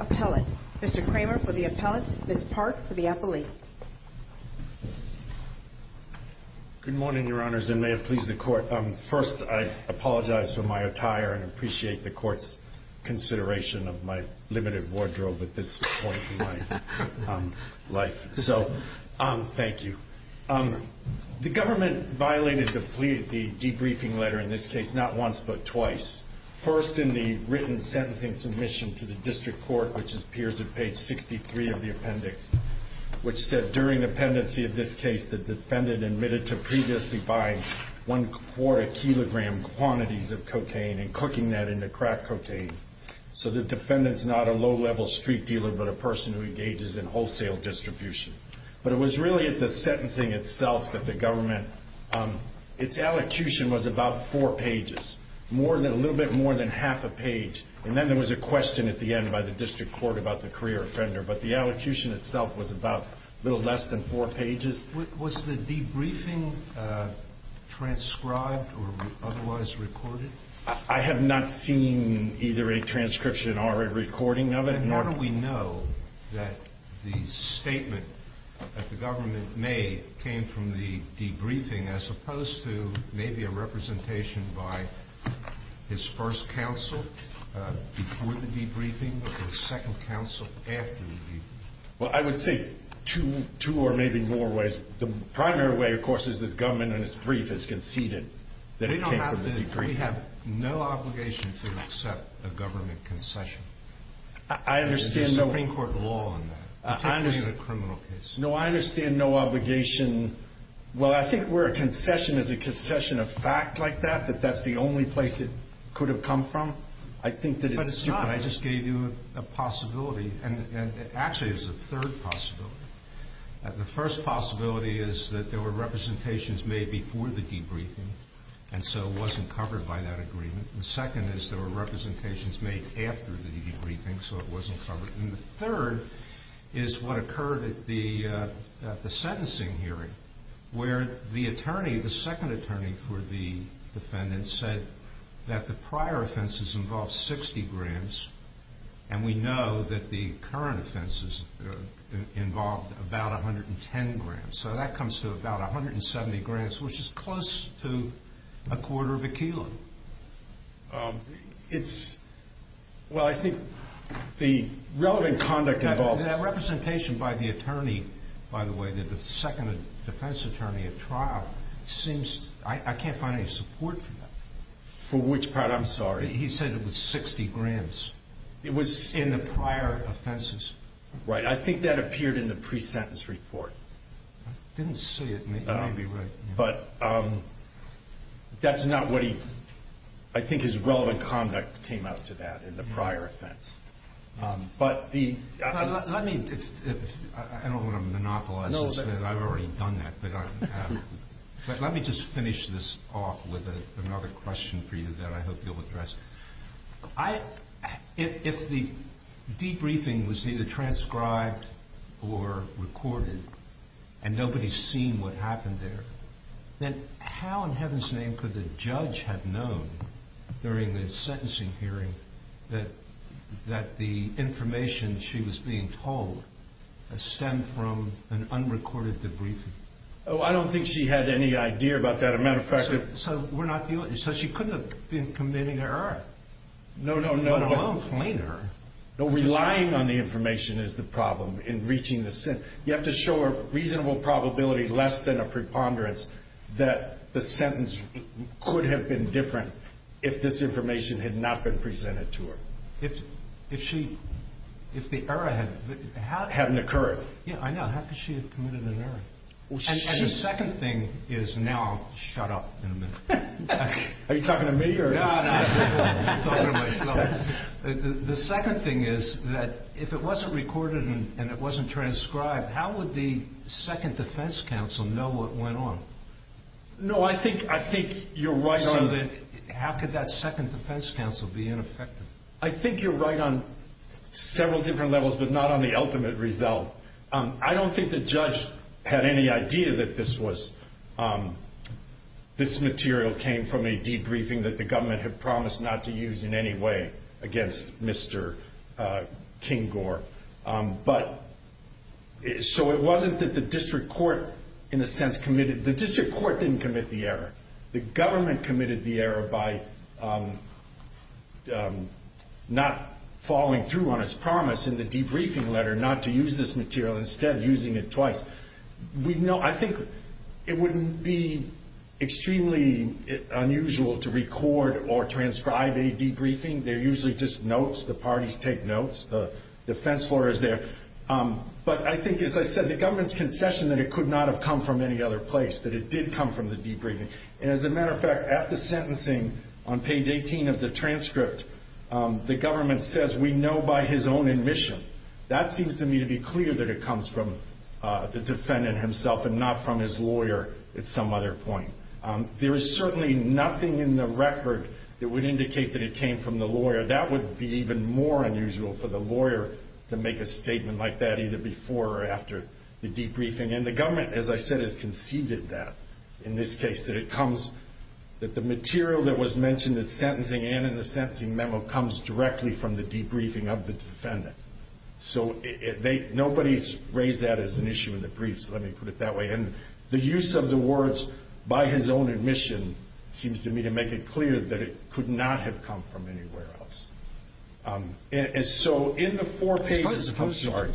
Appellate. Mr. Kramer for the appellant, Ms. Park for the appellate. Good morning, Your Honors, and may it please the Court. First, I apologize for my attire and appreciate the Court's consideration of my limited wardrobe at this point in my life. So, thank you. The government violated the Constitution, the Constitution of the United States, and they deleted the debriefing letter, in this case, not once, but twice. First, in the written sentencing submission to the District Court, which appears at page 63 of the appendix, which said, during the pendency of this case, the defendant admitted to previously buying one-quarter-kilogram quantities of cocaine and cooking that into crack cocaine. So, the defendant's not a low-level street dealer, but a person who engages in wholesale distribution. But it was really at the sentencing itself that the government, its allocution was about four pages, a little bit more than half a page. And then there was a question at the end by the District Court about the career offender, but the allocution itself was about a little less than four pages. Was the debriefing transcribed or otherwise recorded? I have not seen either a transcription or a recording of it. Then how do we know that the statement that the government made came from the debriefing as opposed to maybe a representation by its first counsel before the debriefing or the second counsel after the debriefing? Well, I would say two or maybe more ways. The primary way, of course, is that the government in its brief has conceded that it came from the debriefing. We have no obligation to accept a government concession. I understand no There's a Supreme Court law on that, particularly in a criminal case. No, I understand no obligation. Well, I think where a concession is a concession of fact like that, that that's the only place it could have come from. I think that it's But it's not. I just gave you a possibility. And actually, there's a third possibility. The first possibility is that there were representations made before the debriefing, and so it wasn't covered by that agreement. The second is there were representations made after the debriefing, so it wasn't covered. And the third is what occurred at the sentencing hearing where the attorney, the second attorney for the defendant, said that the prior offenses involved 60 grams, and we know that the current offenses involved about 110 grams. So that comes to about 170 grams, which is close to a quarter of a kilo. Well, I think the relevant conduct involves That representation by the attorney, by the way, the second defense attorney at trial, I can't find any support for that. For which part? I'm sorry. He said it was 60 grams. It was in the prior offenses. Right. I think that appeared in the pre-sentence report. I didn't see it. Maybe you'd be right. But that's not what he... I think his relevant conduct came out to that in the prior offense. But the... Let me... I don't want to monopolize this. I've already done that. But let me just finish this off with another question for you that I hope you'll address. If the debriefing was either transcribed or recorded, and nobody's seen what happened there, then how in heaven's name could the judge have known during the sentencing hearing that the information she was being told stemmed from an unrecorded debriefing? Oh, I don't think she had any idea about that. As a matter of fact... So we're not dealing... So she couldn't have been committing an error? No, no, no. Let alone plain error. No, relying on the information is the problem in reaching the sentence. You have to show a reasonable probability less than a preponderance that the sentence could have been different if this information had not been presented to her. If she... If the error had... Hadn't occurred. Yeah, I know. How could she have committed an error? And the second thing is... Now I'll shut up in a minute. Are you talking to me or...? No, no, no. I'm talking to myself. The second thing is that if it wasn't recorded and it wasn't transcribed, how would the second defense counsel know what went on? No, I think you're right on... So then how could that second defense counsel be ineffective? I think you're right on several different levels, but not on the ultimate result. I don't think the judge had any idea that this was... This material came from a debriefing that the government had promised not to use in any way against Mr. Kinggore. But... So it wasn't that the district court in a sense committed... The district court didn't commit the error. The government committed the error by not following through on its promise in the debriefing letter not to use this material, instead using it twice. I think it wouldn't be extremely unusual to record or transcribe a debriefing. They're usually just notes. The parties take notes. The defense lawyer is there. But I think, as I said, the government's concession that it could not have come from any other place, that it did come from the debriefing. And as a matter of fact, at the sentencing on page 18 of the transcript, the government says, we know by his own admission. That seems to me to be clear that it comes from the defendant himself and not from his lawyer at some other point. There is certainly nothing in the record that would indicate that it came from the lawyer. That would be even more unusual for the lawyer to make a statement like that either before or after the debriefing. And the government, as I said, has conceded that in this case, that it comes, that the material that was mentioned at sentencing and in the sentencing memo comes directly from the debriefing of the defendant. So nobody's raised that as an issue in the brief, so let me put it that way. And the use of the words, by his own admission, seems to me to make it clear that it could not have come from anywhere else. And so in the four pages of the chart—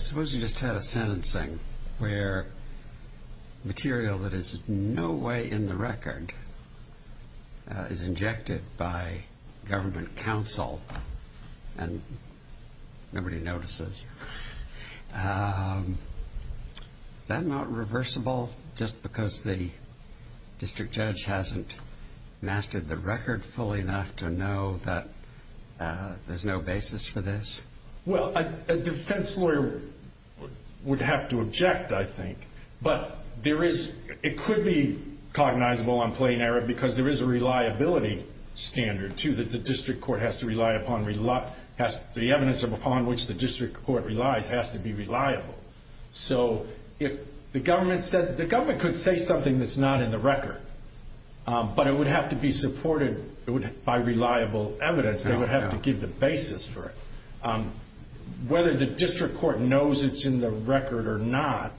—is injected by government counsel, and nobody notices. Is that not reversible just because the district judge hasn't mastered the record fully enough to know that there's no basis for this? Well, a defense lawyer would have to object, I think. But there is—it could be cognizable on plain error because there is a reliability standard, too, that the district court has to rely upon. The evidence upon which the district court relies has to be reliable. So if the government says—the government could say something that's not in the record, but it would have to be supported by reliable evidence. They would have to give the basis for it. Whether the district court knows it's in the record or not,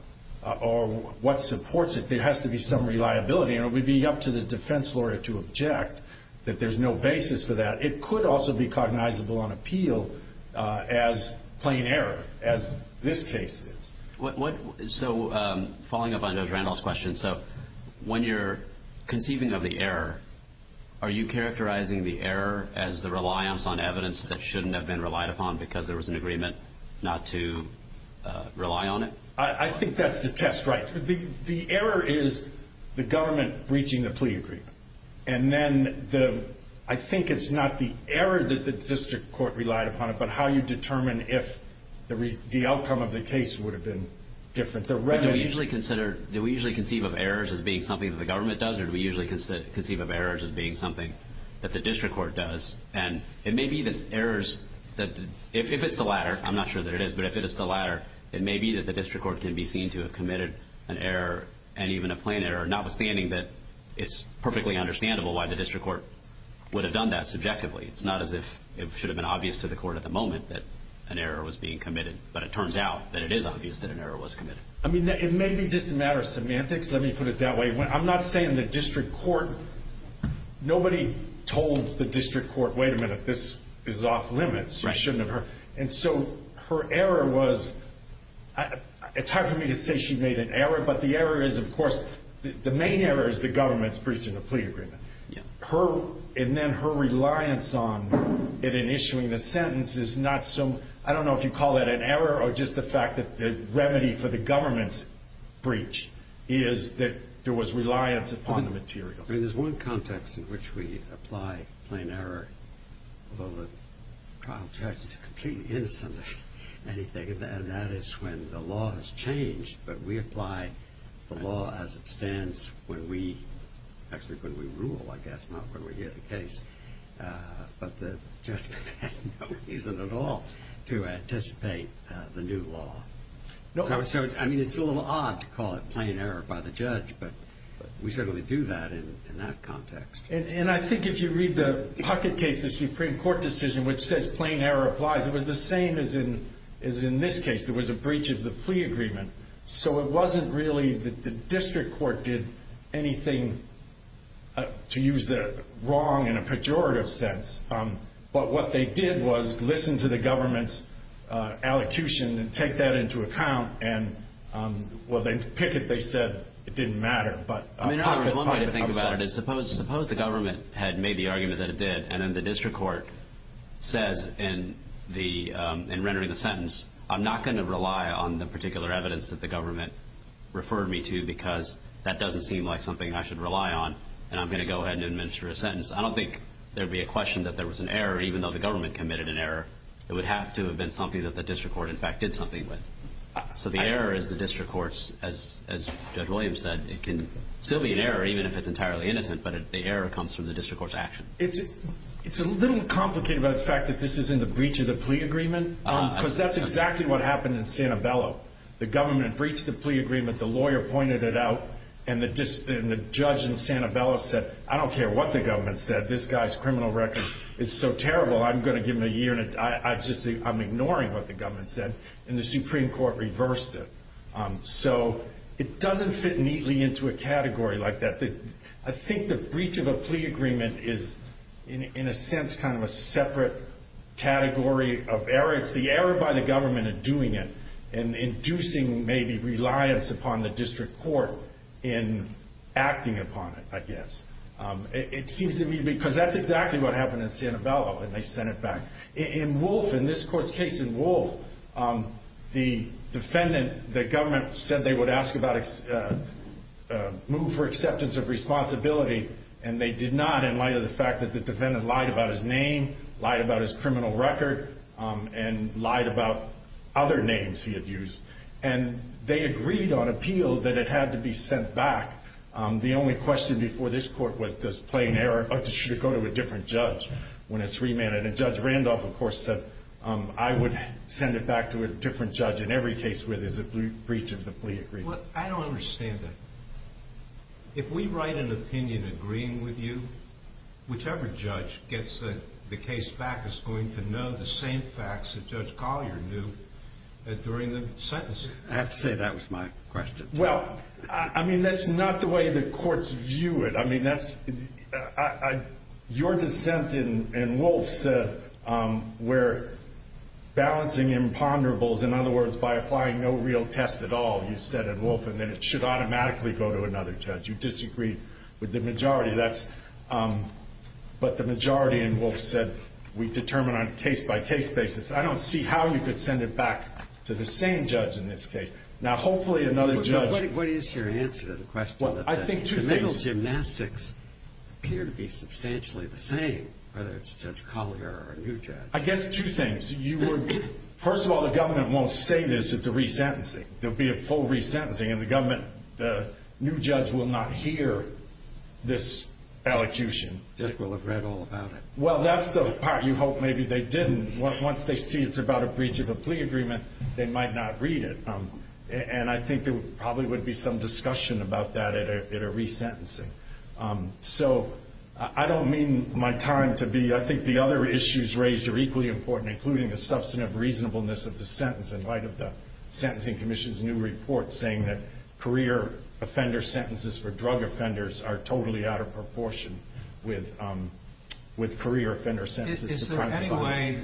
or what supports it, there has to be some reliability, and it would be up to the defense lawyer to object that there's no basis for that. It could also be cognizable on appeal as plain error, as this case is. So following up on Judge Randall's question, so when you're conceiving of the error, are you characterizing the error as the reliance on evidence that shouldn't have been relied upon because there was an agreement not to rely on it? I think that's the test, right. The error is the government breaching the plea agreement. And then I think it's not the error that the district court relied upon it, but how you determine if the outcome of the case would have been different. Do we usually conceive of errors as being something that the government does, or do we usually conceive of errors as being something that the district court does? And it may be that errors that, if it's the latter, I'm not sure that it is, but if it is the latter, it may be that the district court can be seen to have committed an error, and even a plain error, notwithstanding that it's perfectly understandable why the district court would have done that subjectively. It's not as if it should have been obvious to the court at the moment that an error was being committed, but it turns out that it is obvious that an error was committed. I mean, it may be just a matter of semantics. Let me put it that way. I'm not saying the district court, nobody told the district court, wait a minute, this is off limits, you shouldn't have heard. And so her error was, it's hard for me to say she made an error, but the error is, of course, the main error is the government's breaching the plea agreement. And then her reliance on it in issuing the sentence is not so, I don't know if you call that an error or just the fact that the remedy for the government's breach is that there was reliance upon the materials. I mean, there's one context in which we apply plain error, although the trial judge is completely innocent of anything, and that is when the law has changed, but we apply the law as it stands when we, actually when we rule, I guess, not when we hear the case, but the judge has no reason at all to anticipate the new law. So, I mean, it's a little odd to call it plain error by the judge, but we certainly do that in that context. And I think if you read the Puckett case, the Supreme Court decision, which says plain error applies, it was the same as in this case. There was a breach of the plea agreement. So it wasn't really that the district court did anything to use the wrong in a pejorative sense, but what they did was listen to the government's allocution and take that into account. And, well, in Pickett they said it didn't matter. I mean, one way to think about it is suppose the government had made the argument that it did, and then the district court says in rendering the sentence, I'm not going to rely on the particular evidence that the government referred me to because that doesn't seem like something I should rely on, and I'm going to go ahead and administer a sentence. I don't think there would be a question that there was an error, even though the government committed an error. It would have to have been something that the district court, in fact, did something with. So the error is the district court's, as Judge Williams said, it can still be an error even if it's entirely innocent, but the error comes from the district court's action. It's a little complicated by the fact that this is in the breach of the plea agreement because that's exactly what happened in Santabello. The government breached the plea agreement, the lawyer pointed it out, and the judge in Santabello said, I don't care what the government said, this guy's criminal record is so terrible I'm going to give him a year, I'm ignoring what the government said, and the Supreme Court reversed it. So it doesn't fit neatly into a category like that. I think the breach of a plea agreement is, in a sense, kind of a separate category of error. It's the error by the government in doing it and inducing maybe reliance upon the district court in acting upon it, I guess. It seems to me because that's exactly what happened in Santabello, and they sent it back. In Wolfe, in this court's case in Wolfe, the defendant, the government, said they would move for acceptance of responsibility, and they did not in light of the fact that the defendant lied about his name, lied about his criminal record, and lied about other names he had used. And they agreed on appeal that it had to be sent back. The only question before this court was, does plain error, or should it go to a different judge when it's remanded? And Judge Randolph, of course, said, I would send it back to a different judge in every case where there's a breach of the plea agreement. Well, I don't understand that. If we write an opinion agreeing with you, whichever judge gets the case back is going to know the same facts that Judge Collier knew during the sentence. I have to say that was my question. Well, I mean, that's not the way the courts view it. I mean, your dissent in Wolfe said we're balancing imponderables. In other words, by applying no real test at all, you said in Wolfe, and then it should automatically go to another judge. You disagreed with the majority. But the majority in Wolfe said we determine on a case-by-case basis. I don't see how you could send it back to the same judge in this case. Now, hopefully another judge— What is your answer to the question? Well, I think two things— The middle gymnastics appear to be substantially the same, whether it's Judge Collier or a new judge. I guess two things. First of all, the government won't say this at the resentencing. There will be a full resentencing, and the new judge will not hear this elocution. Judge will have read all about it. Well, that's the part you hope maybe they didn't. Once they see it's about a breach of a plea agreement, they might not read it. And I think there probably would be some discussion about that at a resentencing. So I don't mean my time to be—I think the other issues raised are equally important, including the substantive reasonableness of the sentence in light of the Sentencing Commission's new report saying that career offender sentences for drug offenders are totally out of proportion with career offender sentences. Is there any way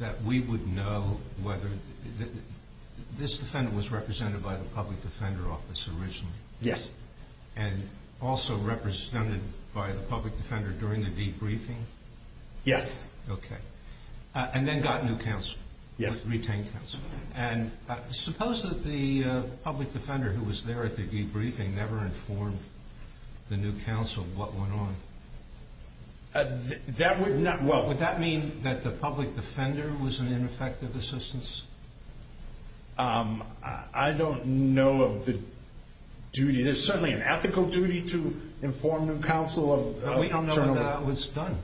that we would know whether—this defendant was represented by the public defender office originally? Yes. And also represented by the public defender during the debriefing? Yes. Okay. And then got new counsel. Yes. Retained counsel. And suppose that the public defender who was there at the debriefing never informed the new counsel what went on. That would not—well— Would that mean that the public defender was an ineffective assistance? I don't know of the duty. There's certainly an ethical duty to inform new counsel of— But we don't know when that was done.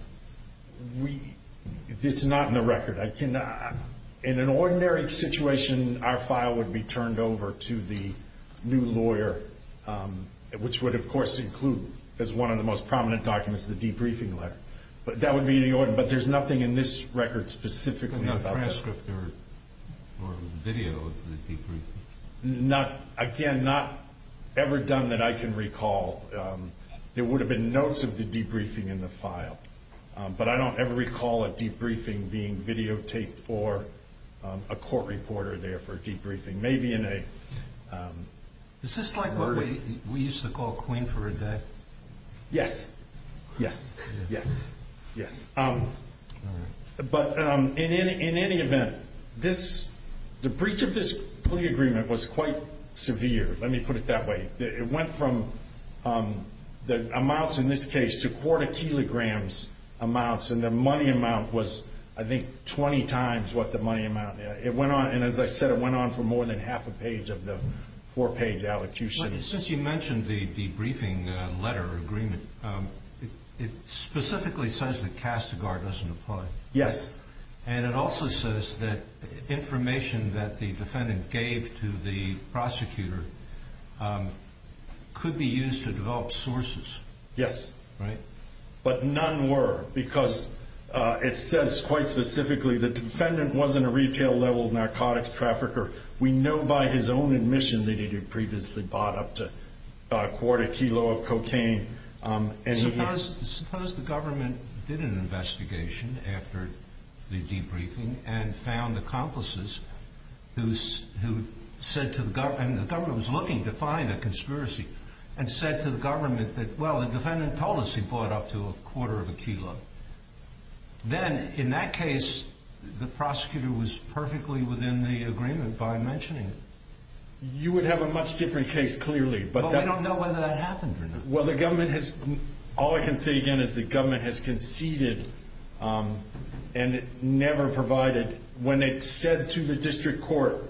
It's not in the record. In an ordinary situation, our file would be turned over to the new lawyer, which would, of course, include as one of the most prominent documents the debriefing letter. But that would be the—but there's nothing in this record specifically about— But not transcript or video of the debriefing? Again, not ever done that I can recall. There would have been notes of the debriefing in the file. But I don't ever recall a debriefing being videotaped or a court reporter there for a debriefing. Maybe in a— Is this like what we used to call queen for a day? Yes. Yes. Yes. Yes. But in any event, this—the breach of this plea agreement was quite severe. Let me put it that way. It went from the amounts in this case to quarter kilograms amounts, and the money amount was, I think, 20 times what the money amount. It went on—and as I said, it went on for more than half a page of the four-page allocution. Since you mentioned the debriefing letter agreement, it specifically says that Kastigar doesn't apply. Yes. And it also says that information that the defendant gave to the prosecutor could be used to develop sources. Yes. Right? But none were because it says quite specifically the defendant wasn't a retail-level narcotics trafficker. We know by his own admission that he had previously bought up to a quarter kilo of cocaine. Suppose the government did an investigation after the debriefing and found accomplices who said to the—and the government was looking to find a conspiracy and said to the government that, well, the defendant told us he bought up to a quarter of a kilo. Then, in that case, the prosecutor was perfectly within the agreement by mentioning it. You would have a much different case, clearly, but that's— Well, the government has—all I can say again is the government has conceded and never provided. When it said to the district court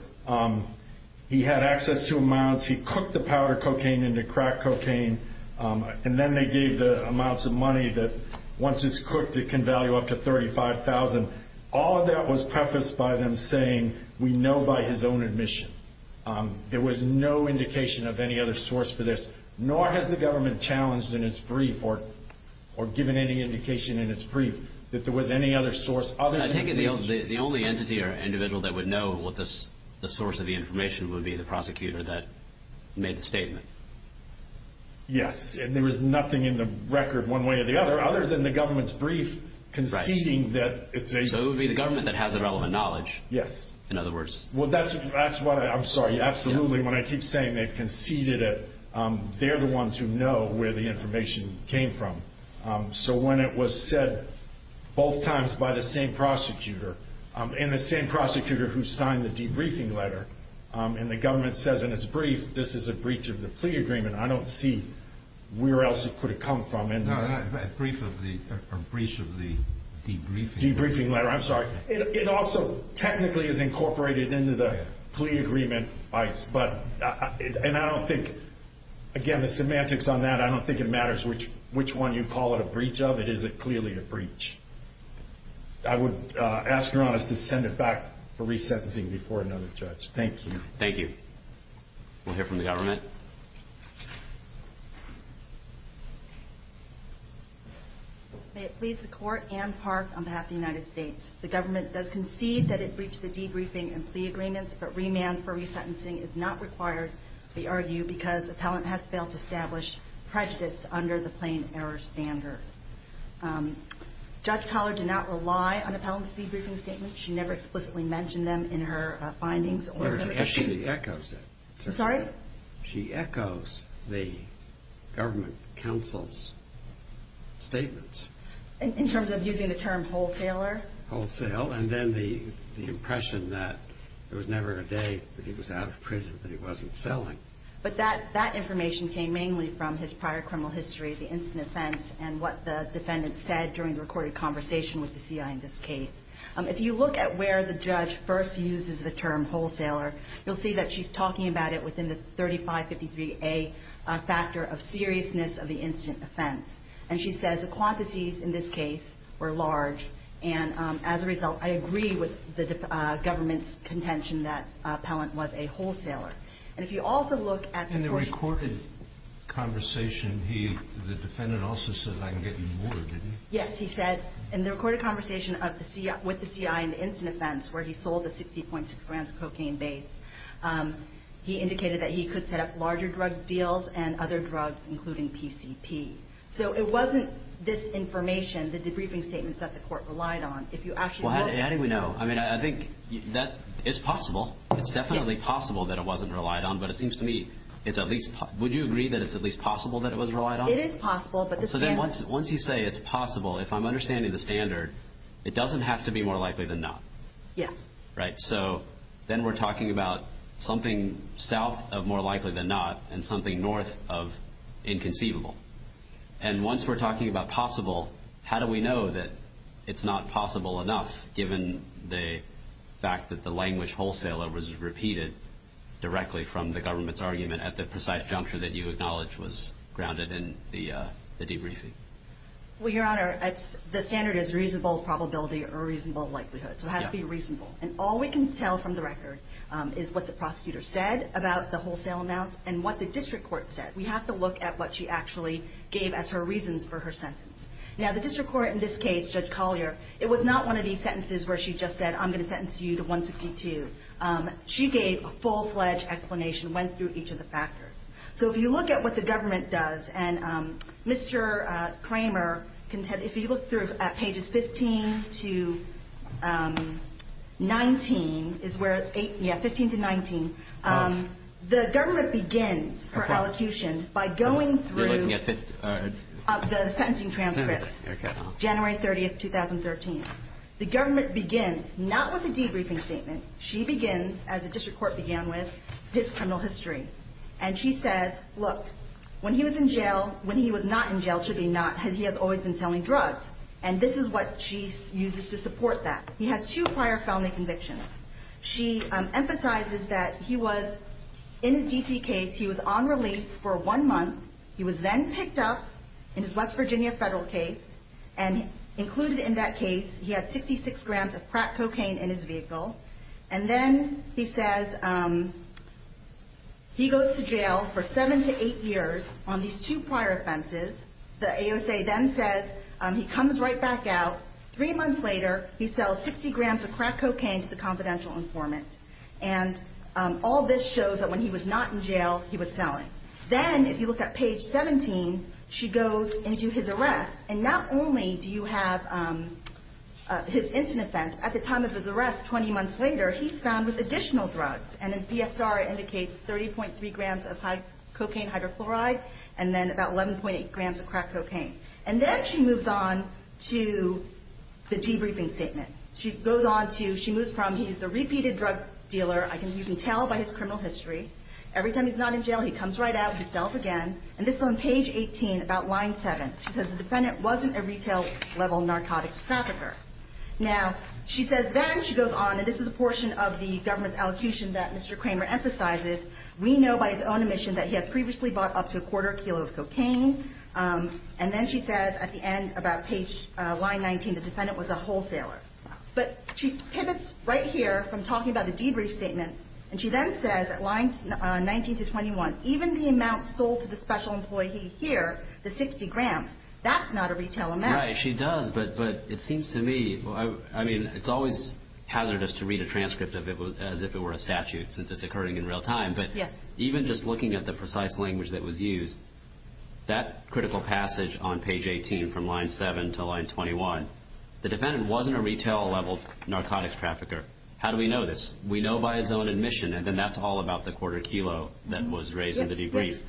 he had access to amounts, he cooked the powder cocaine into crack cocaine, and then they gave the amounts of money that, once it's cooked, it can value up to $35,000, all of that was prefaced by them saying, we know by his own admission. There was no indication of any other source for this. Nor has the government challenged in its brief or given any indication in its brief that there was any other source other than— I take it the only entity or individual that would know what the source of the information would be, the prosecutor that made the statement. Yes, and there was nothing in the record, one way or the other, other than the government's brief conceding that it's a— So it would be the government that has the relevant knowledge. Yes. In other words— Well, that's what—I'm sorry. Absolutely. When I keep saying they've conceded it, they're the ones who know where the information came from. So when it was said both times by the same prosecutor and the same prosecutor who signed the debriefing letter, and the government says in its brief this is a breach of the plea agreement, I don't see where else it could have come from. A brief of the—a breach of the debriefing letter. Debriefing letter. I'm sorry. It also technically is incorporated into the plea agreement, and I don't think—again, the semantics on that, I don't think it matters which one you call it a breach of. It is clearly a breach. I would ask your Honest to send it back for resentencing before another judge. Thank you. Thank you. We'll hear from the government. May it please the Court, Anne Park on behalf of the United States. The government does concede that it breached the debriefing and plea agreements, but remand for resentencing is not required, we argue, because the appellant has failed to establish prejudice under the plain error standard. Judge Collard did not rely on the appellant's debriefing statement. She never explicitly mentioned them in her findings or— She echoes it. I'm sorry? She echoes the government counsel's statements. In terms of using the term wholesaler? Wholesale, and then the impression that there was never a day that he was out of prison, that he wasn't selling. But that information came mainly from his prior criminal history, the instant offense, and what the defendant said during the recorded conversation with the CI in this case. If you look at where the judge first uses the term wholesaler, you'll see that she's talking about it within the 3553A factor of seriousness of the instant offense. And she says the quantities in this case were large, and as a result I agree with the government's contention that the appellant was a wholesaler. And if you also look at the— In the recorded conversation, the defendant also said, I can get you more, didn't he? Yes, he said. In the recorded conversation with the CI in the instant offense where he sold the 60.6 grams of cocaine base, he indicated that he could set up larger drug deals and other drugs, including PCP. So it wasn't this information, the debriefing statements, that the court relied on. If you actually look— Well, how do we know? I mean, I think that it's possible. It's definitely possible that it wasn't relied on, but it seems to me it's at least— would you agree that it's at least possible that it was relied on? It is possible, but the standard— So then once you say it's possible, if I'm understanding the standard, it doesn't have to be more likely than not. Yes. Right? So then we're talking about something south of more likely than not and something north of inconceivable. And once we're talking about possible, how do we know that it's not possible enough, given the fact that the language wholesaler was repeated directly from the government's argument at the precise juncture that you acknowledge was grounded in the debriefing? Well, Your Honor, the standard is reasonable probability or reasonable likelihood. So it has to be reasonable. And all we can tell from the record is what the prosecutor said about the wholesale amounts and what the district court said. We have to look at what she actually gave as her reasons for her sentence. Now, the district court in this case, Judge Collier, it was not one of these sentences where she just said, I'm going to sentence you to 162. She gave a full-fledged explanation, went through each of the factors. So if you look at what the government does, and Mr. Kramer, if you look through at pages 15 to 19, is where, yeah, 15 to 19, the government begins her elocution by going through the sentencing transcript. January 30th, 2013. The government begins not with a debriefing statement. She begins, as the district court began with, his criminal history. And she says, look, when he was in jail, when he was not in jail, should be not, he has always been selling drugs. And this is what she uses to support that. He has two prior felony convictions. She emphasizes that he was, in his D.C. case, he was on release for one month. He was then picked up in his West Virginia federal case, and included in that case, he had 66 grams of crack cocaine in his vehicle. And then he says he goes to jail for seven to eight years on these two prior offenses. The ASA then says he comes right back out. Three months later, he sells 60 grams of crack cocaine to the confidential informant. And all this shows that when he was not in jail, he was selling. Then, if you look at page 17, she goes into his arrest. And not only do you have his instant offense. At the time of his arrest, 20 months later, he's found with additional drugs. And the PSR indicates 30.3 grams of cocaine hydrochloride, and then about 11.8 grams of crack cocaine. And then she moves on to the debriefing statement. She goes on to, she moves from, he's a repeated drug dealer. You can tell by his criminal history. Every time he's not in jail, he comes right out, he sells again. And this is on page 18, about line 7. She says the defendant wasn't a retail-level narcotics trafficker. Now, she says then she goes on, and this is a portion of the government's allocution that Mr. Kramer emphasizes. We know by his own admission that he had previously bought up to a quarter kilo of cocaine. And then she says at the end, about line 19, the defendant was a wholesaler. But she pivots right here from talking about the debrief statements. And she then says at lines 19 to 21, even the amount sold to the special employee here, the 60 grams, that's not a retail amount. Right, she does. But it seems to me, I mean, it's always hazardous to read a transcript as if it were a statute since it's occurring in real time. But even just looking at the precise language that was used, that critical passage on page 18 from line 7 to line 21, the defendant wasn't a retail-level narcotics trafficker. How do we know this? We know by his own admission, and then that's all about the quarter kilo that was raised in the debrief.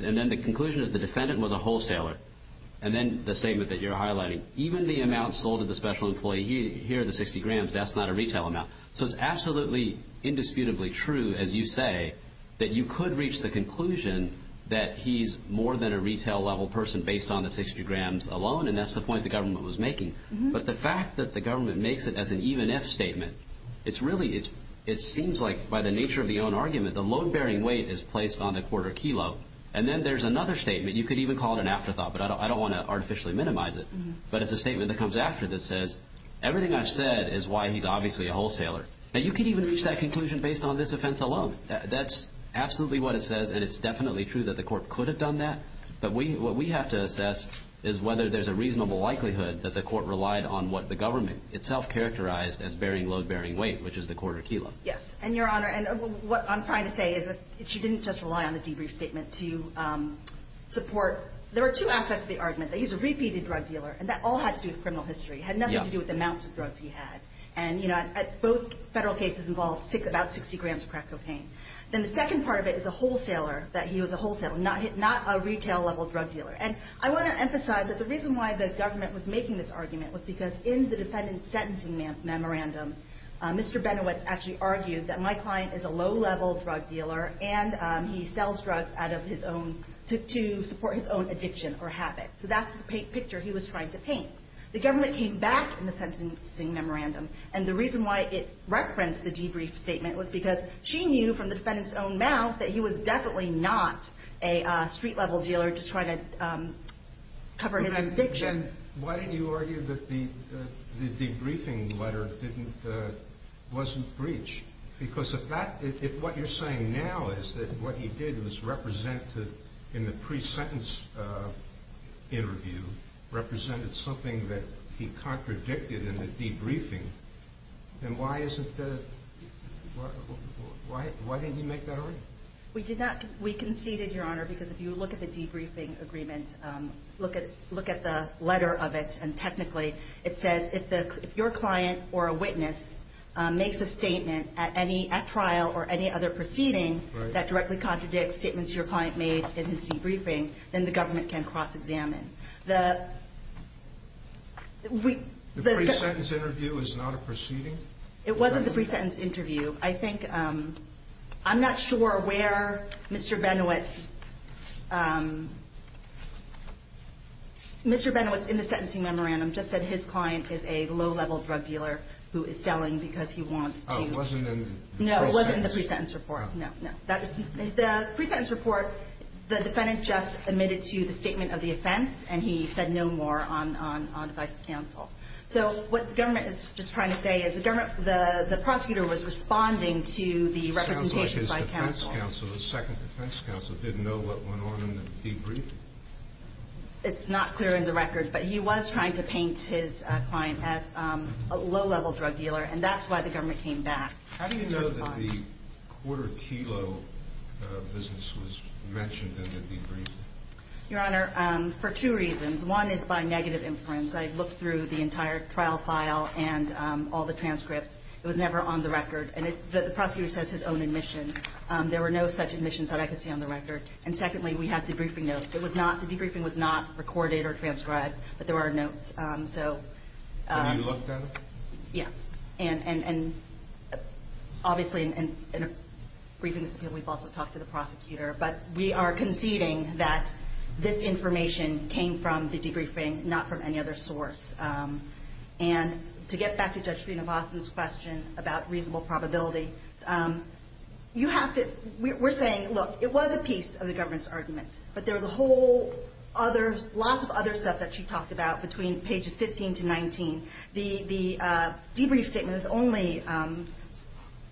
And then the conclusion is the defendant was a wholesaler. And then the statement that you're highlighting, even the amount sold to the special employee here, the 60 grams, that's not a retail amount. So it's absolutely indisputably true, as you say, that you could reach the conclusion that he's more than a retail-level person based on the 60 grams alone, and that's the point the government was making. But the fact that the government makes it as an even-if statement, it's really, it seems like by the nature of the own argument, the load-bearing weight is placed on the quarter kilo. And then there's another statement. You could even call it an afterthought, but I don't want to artificially minimize it. But it's a statement that comes after that says, everything I've said is why he's obviously a wholesaler. Now, you could even reach that conclusion based on this offense alone. That's absolutely what it says, and it's definitely true that the court could have done that. But what we have to assess is whether there's a reasonable likelihood that the court relied on what the government itself characterized as bearing load-bearing weight, which is the quarter kilo. Yes, and, Your Honor, what I'm trying to say is that she didn't just rely on the debrief statement to support. There were two aspects of the argument, that he's a repeated drug dealer, and that all had to do with criminal history. It had nothing to do with the amounts of drugs he had. And, you know, both federal cases involved about 60 grams of crack cocaine. Then the second part of it is a wholesaler, that he was a wholesaler, not a retail-level drug dealer. And I want to emphasize that the reason why the government was making this argument was because in the defendant's sentencing memorandum, Mr. Benowitz actually argued that my client is a low-level drug dealer, and he sells drugs to support his own addiction or habit. So that's the picture he was trying to paint. The government came back in the sentencing memorandum. And the reason why it referenced the debrief statement was because she knew from the defendant's own mouth that he was definitely not a street-level dealer just trying to cover his addiction. Then why didn't you argue that the debriefing letter wasn't breach? Because if what you're saying now is that what he did was represented in the pre-sentence interview, represented something that he contradicted in the debriefing, then why isn't the ‑‑ why didn't you make that argument? We did not. We conceded, Your Honor, because if you look at the debriefing agreement, look at the letter of it, and technically it says if your client or a witness makes a statement at trial or any other proceeding that directly contradicts statements your client made in his debriefing, then the government can cross-examine. The ‑‑ The pre-sentence interview is not a proceeding? It wasn't the pre-sentence interview. I think ‑‑ I'm not sure where Mr. Benowitz ‑‑ Mr. Benowitz in the sentencing memorandum just said his client is a low-level drug dealer who is selling because he wants to ‑‑ Oh, it wasn't in the pre-sentence? No, it wasn't in the pre-sentence report. No. The pre-sentence report, the defendant just admitted to the statement of the offense and he said no more on advice of counsel. So what the government is just trying to say is the government ‑‑ the prosecutor was responding to the representations by counsel. It sounds like his defense counsel, the second defense counsel, didn't know what went on in the debriefing. It's not clear in the record, but he was trying to paint his client as a low-level drug dealer, and that's why the government came back to respond. How do you know that the quarter kilo business was mentioned in the debriefing? Your Honor, for two reasons. One is by negative inference. I looked through the entire trial file and all the transcripts. It was never on the record. And the prosecutor says his own admission. There were no such admissions that I could see on the record. And secondly, we had debriefing notes. It was not ‑‑ the debriefing was not recorded or transcribed, but there were notes. So ‑‑ And you looked at it? Yes. And, obviously, in a briefing, we've also talked to the prosecutor. But we are conceding that this information came from the debriefing, not from any other source. And to get back to Judge Sreenivasan's question about reasonable probability, you have to ‑‑ we're saying, look, it was a piece of the government's argument, but there was a whole other ‑‑ lots of other stuff that she talked about between pages 15 to 19. The debrief statement is only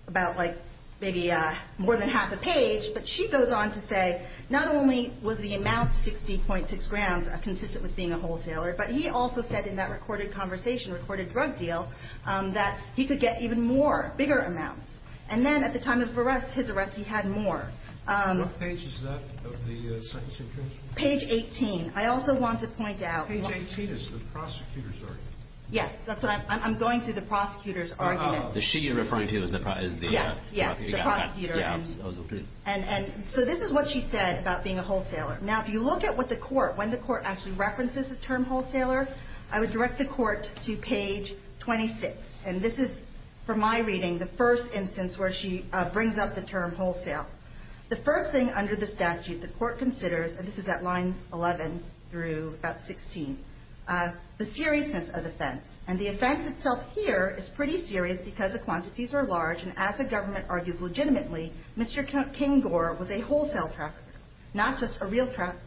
about, like, maybe more than half a page, but she goes on to say not only was the amount 60.6 grams consistent with being a wholesaler, but he also said in that recorded conversation, recorded drug deal, that he could get even more, bigger amounts. And then at the time of arrest, his arrest, he had more. What page is that of the second sentence? Page 18. I also want to point out ‑‑ Page 18 is the prosecutor's argument. Yes, that's what I'm ‑‑ I'm going through the prosecutor's argument. Is she referring to as the prosecutor? Yes, yes, the prosecutor. Yeah, I was looking. And so this is what she said about being a wholesaler. Now, if you look at what the court, when the court actually references the term wholesaler, I would direct the court to page 26. And this is, from my reading, the first instance where she brings up the term wholesale. The first thing under the statute the court considers, and this is at lines 11 through about 16, the seriousness of offense. And the offense itself here is pretty serious because the quantities are large, and as the government argues legitimately, Mr. King Gore was a wholesale trafficker, not just a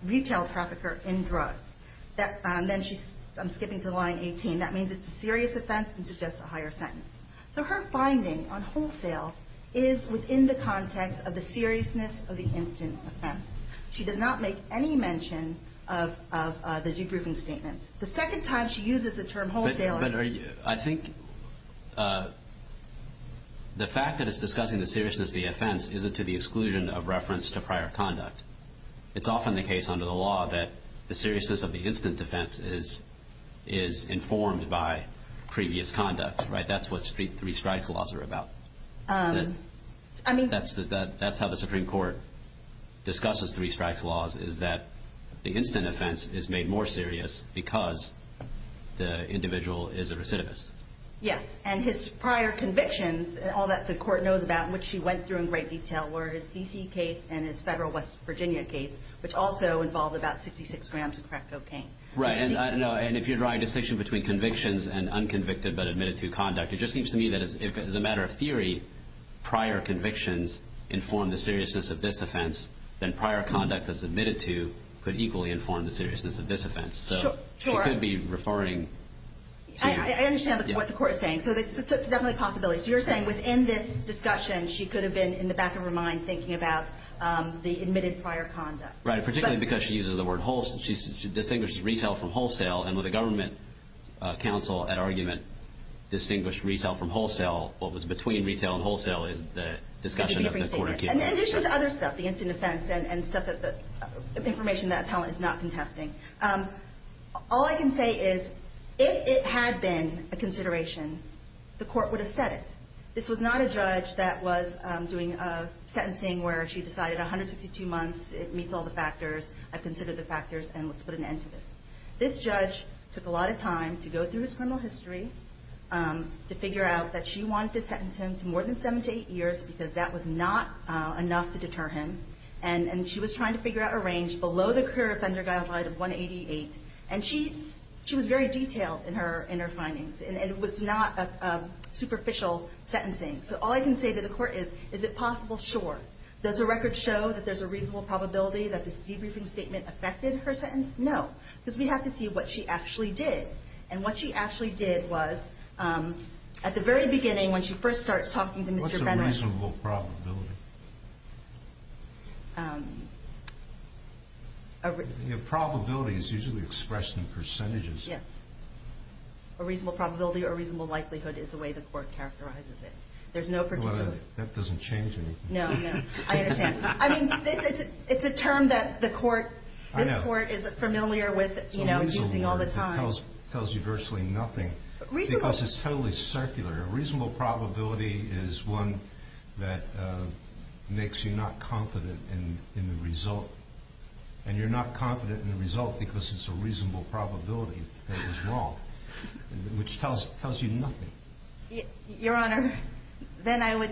retail trafficker in drugs. Then she's skipping to line 18. That means it's a serious offense and suggests a higher sentence. So her finding on wholesale is within the context of the seriousness of the instant offense. She does not make any mention of the debriefing statements. The second time she uses the term wholesaler. But I think the fact that it's discussing the seriousness of the offense isn't to the exclusion of reference to prior conduct. It's often the case under the law that the seriousness of the instant defense is informed by previous conduct, right? That's what three strikes laws are about. That's how the Supreme Court discusses three strikes laws, is that the instant offense is made more serious because the individual is a recidivist. Yes. And his prior convictions, all that the court knows about, which she went through in great detail, were his D.C. case and his federal West Virginia case, which also involved about 66 grams of crack cocaine. Right. And if you're drawing a distinction between convictions and unconvicted but admitted to conduct, it just seems to me that as a matter of theory, prior convictions inform the seriousness of this offense, then prior conduct as admitted to could equally inform the seriousness of this offense. So she could be referring to... I understand what the court is saying. So it's definitely a possibility. So you're saying within this discussion, she could have been in the back of her mind thinking about the admitted prior conduct. Right, particularly because she uses the word wholesale. She distinguishes retail from wholesale, and when the government counsel at argument distinguished retail from wholesale, what was between retail and wholesale is the discussion of the court. And in addition to other stuff, the instant offense, and stuff that the information that appellant is not contesting, all I can say is if it had been a consideration, the court would have said it. This was not a judge that was doing sentencing where she decided 162 months, it meets all the factors, I've considered the factors, and let's put an end to this. This judge took a lot of time to go through his criminal history to figure out that she wanted to sentence him to more than 7 to 8 years because that was not enough to deter him. And she was trying to figure out a range below the career offender guideline of 188. And she was very detailed in her findings, and it was not superficial sentencing. So all I can say to the court is, is it possible? Sure. Does the record show that there's a reasonable probability that this debriefing statement affected her sentence? No. Because we have to see what she actually did. And what she actually did was, at the very beginning, when she first starts talking to Mr. Fenner, What's a reasonable probability? A probability is usually expressed in percentages. Yes. A reasonable probability or a reasonable likelihood is the way the court characterizes it. There's no particular way. That doesn't change anything. No, no. I understand. It's a term that this court is familiar with using all the time. It's a reasonable word that tells you virtually nothing. Because it's totally circular. A reasonable probability is one that makes you not confident in the result. And you're not confident in the result because it's a reasonable probability that it was wrong, which tells you nothing. Your Honor, then I would,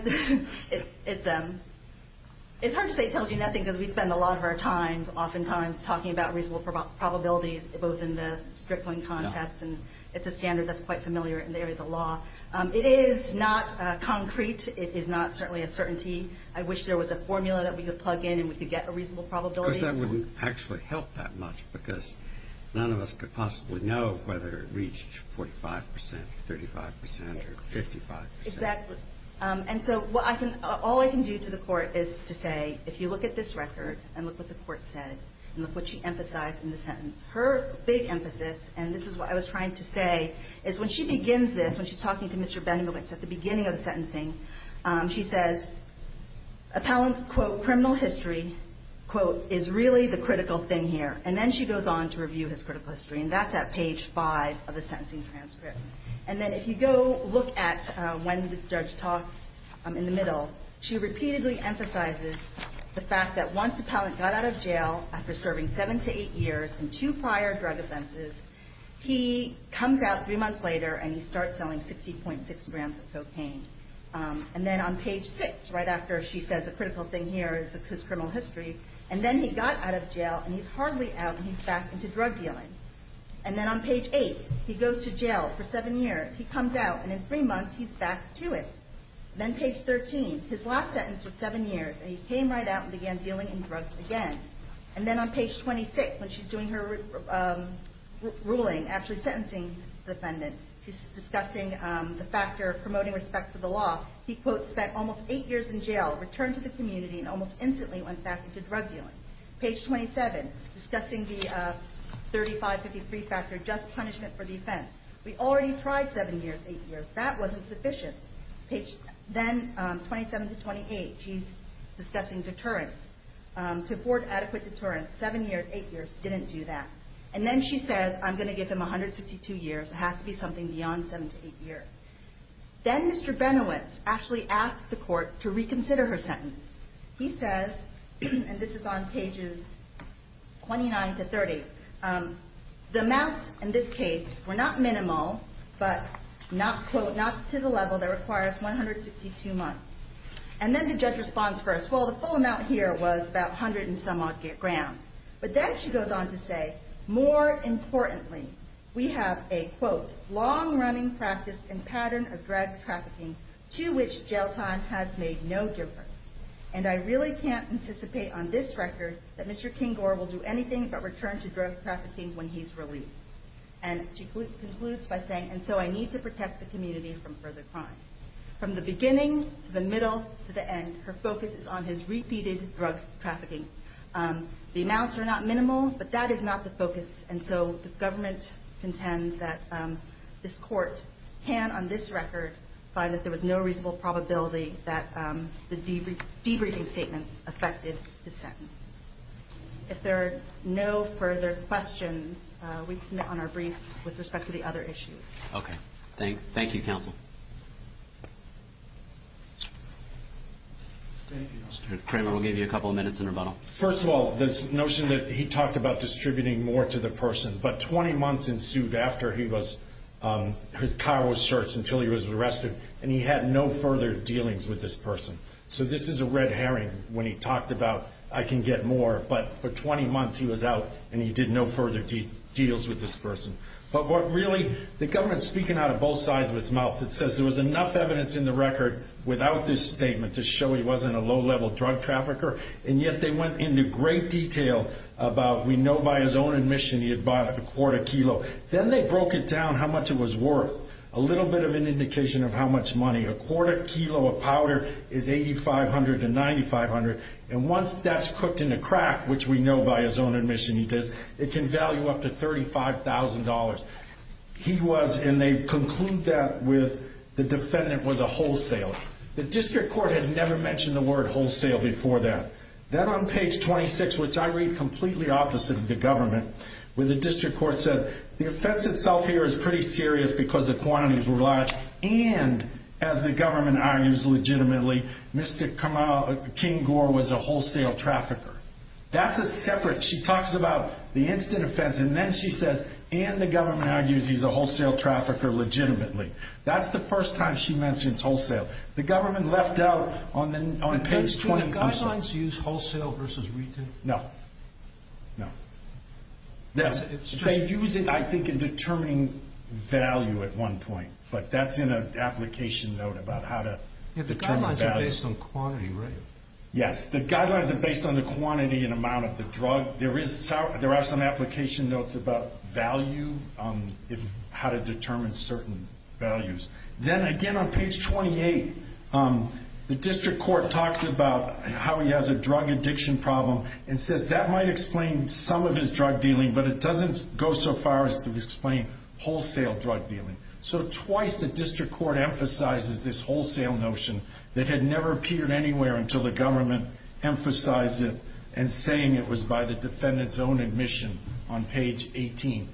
it's hard to say it tells you nothing because we spend a lot of our time oftentimes talking about reasonable probabilities, both in the Strickland context and it's a standard that's quite familiar in the area of the law. It is not concrete. It is not certainly a certainty. I wish there was a formula that we could plug in and we could get a reasonable probability. Of course, that wouldn't actually help that much because none of us could possibly know whether it reached 45 percent or 35 percent or 55 percent. Exactly. And so all I can do to the court is to say, if you look at this record and look what the court said and look what she emphasized in the sentence, her big emphasis, and this is what I was trying to say, is when she begins this, when she's talking to Mr. Benowitz at the beginning of the sentencing, she says appellant's, quote, criminal history, quote, is really the critical thing here. And then she goes on to review his critical history, and that's at page five of the sentencing transcript. And then if you go look at when the judge talks in the middle, she repeatedly emphasizes the fact that once the appellant got out of jail after serving seven to eight years in two prior drug offenses, he comes out three months later and he starts selling 60.6 grams of cocaine. And then on page six, right after she says the critical thing here is his criminal history, and then he got out of jail and he's hardly out and he's back into drug dealing. And then on page eight, he goes to jail for seven years, he comes out, and in three months he's back to it. Then page 13, his last sentence was seven years, and he came right out and began dealing in drugs again. And then on page 26, when she's doing her ruling, actually sentencing the defendant, she's discussing the factor of promoting respect for the law. He, quote, spent almost eight years in jail, returned to the community, and almost instantly went back into drug dealing. Page 27, discussing the 3553 factor, just punishment for the offense. We already tried seven years, eight years. That wasn't sufficient. Then 27 to 28, she's discussing deterrence. To afford adequate deterrence, seven years, eight years, didn't do that. And then she says, I'm going to give him 162 years. It has to be something beyond seven to eight years. Then Mr. Benowitz actually asks the court to reconsider her sentence. He says, and this is on pages 29 to 30, the amounts in this case were not minimal, but not, quote, not to the level that requires 162 months. And then the judge responds first. Well, the full amount here was about 100 and some odd grand. But then she goes on to say, more importantly, we have a, quote, long-running practice and pattern of drug trafficking to which jail time has made no difference. And I really can't anticipate on this record that Mr. King-Gore will do anything but return to drug trafficking when he's released. And she concludes by saying, and so I need to protect the community from further crimes. From the beginning to the middle to the end, her focus is on his repeated drug trafficking. The amounts are not minimal, but that is not the focus. And so the government contends that this court can, on this record, find that there was no reasonable probability that the debriefing statements affected his sentence. If there are no further questions, we'd submit on our briefs with respect to the other issues. Okay. Thank you, counsel. Thank you, Mr. Chairman. We'll give you a couple of minutes in rebuttal. First of all, this notion that he talked about distributing more to the person, but 20 months ensued after he was, his car was searched until he was arrested, and he had no further dealings with this person. So this is a red herring when he talked about, I can get more. But for 20 months he was out, and he did no further deals with this person. But what really, the government's speaking out of both sides of its mouth. It says there was enough evidence in the record without this statement to show he wasn't a low-level drug trafficker, and yet they went into great detail about, we know by his own admission, he had bought a quarter kilo. Then they broke it down how much it was worth. A little bit of an indication of how much money. A quarter kilo of powder is $8,500 to $9,500. And once that's cooked in a crack, which we know by his own admission he does, it can value up to $35,000. He was, and they conclude that with the defendant was a wholesaler. The district court had never mentioned the word wholesale before that. Then on page 26, which I read completely opposite of the government, where the district court said, the offense itself here is pretty serious because the quantities were large, and as the government argues legitimately, Mr. King Gore was a wholesale trafficker. That's a separate. She talks about the instant offense, and then she says, and the government argues he's a wholesale trafficker legitimately. That's the first time she mentions wholesale. The government left out on page 26. Do the guidelines use wholesale versus retail? No. They use it, I think, in determining value at one point, but that's in an application note about how to determine value. The guidelines are based on quantity, right? Yes. The guidelines are based on the quantity and amount of the drug. There are some application notes about value, how to determine certain values. Then, again, on page 28, the district court talks about how he has a drug addiction problem and says that might explain some of his drug dealing, but it doesn't go so far as to explain wholesale drug dealing. So twice the district court emphasizes this wholesale notion that had never appeared anywhere until the government emphasized it and saying it was by the defendant's own admission on page 18.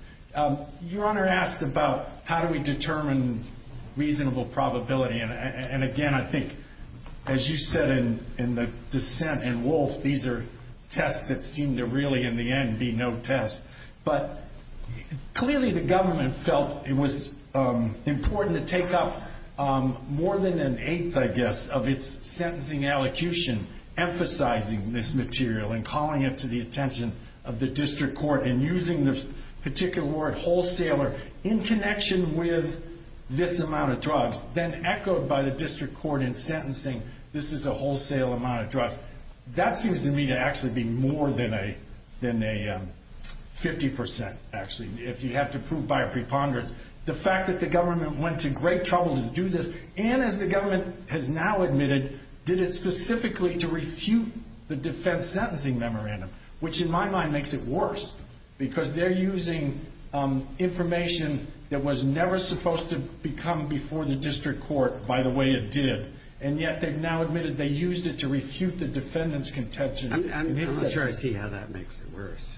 Your Honor asked about how do we determine reasonable probability, and, again, I think, as you said in the dissent and Wolf, these are tests that seem to really, in the end, be no tests. But clearly the government felt it was important to take up more than an eighth, I guess, of its sentencing allocution emphasizing this material and calling it to the attention of the district court and using the particular word wholesaler in connection with this amount of drugs then echoed by the district court in sentencing this is a wholesale amount of drugs. That seems to me to actually be more than a 50%, actually, if you have to prove by a preponderance. The fact that the government went to great trouble to do this and, as the government has now admitted, did it specifically to refute the defense sentencing memorandum, which in my mind makes it worse because they're using information that was never supposed to become before the district court by the way it did, and yet they've now admitted they used it to refute the defendant's contention. I'm not sure I see how that makes it worse.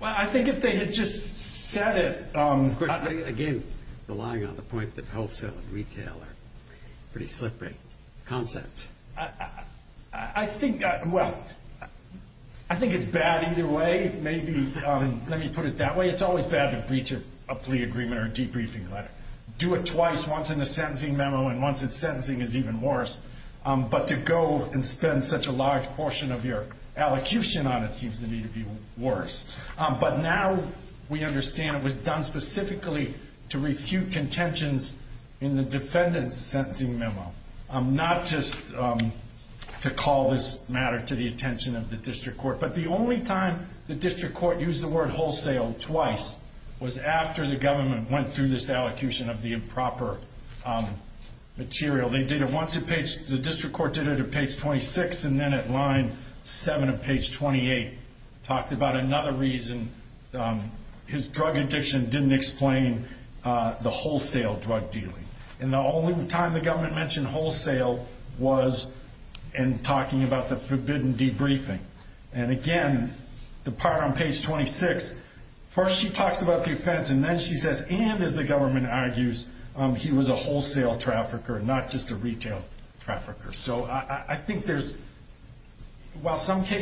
Well, I think if they had just said it... Again, relying on the point that wholesale and retail are pretty slippery concepts. I think, well, I think it's bad either way. Maybe, let me put it that way, it's always bad to breach a plea agreement or a debriefing letter. Do it twice, once in a sentencing memo and once in sentencing is even worse. But to go and spend such a large portion of your allocution on it seems to me to be worse. But now we understand it was done specifically to refute contentions in the defendant's sentencing memo, not just to call this matter to the attention of the district court. But the only time the district court used the word wholesale twice was after the government went through this allocution of the improper material. They did it once at page... talked about another reason his drug addiction didn't explain the wholesale drug dealing. And the only time the government mentioned wholesale was in talking about the forbidden debriefing. And again, the part on page 26, first she talks about the offense and then she says, and as the government argues, he was a wholesale trafficker and not just a retail trafficker. So I think there's...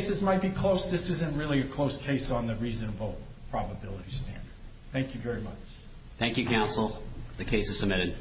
this isn't really a close case on the reasonable probability standard. Thank you very much. Thank you, counsel. The case is submitted.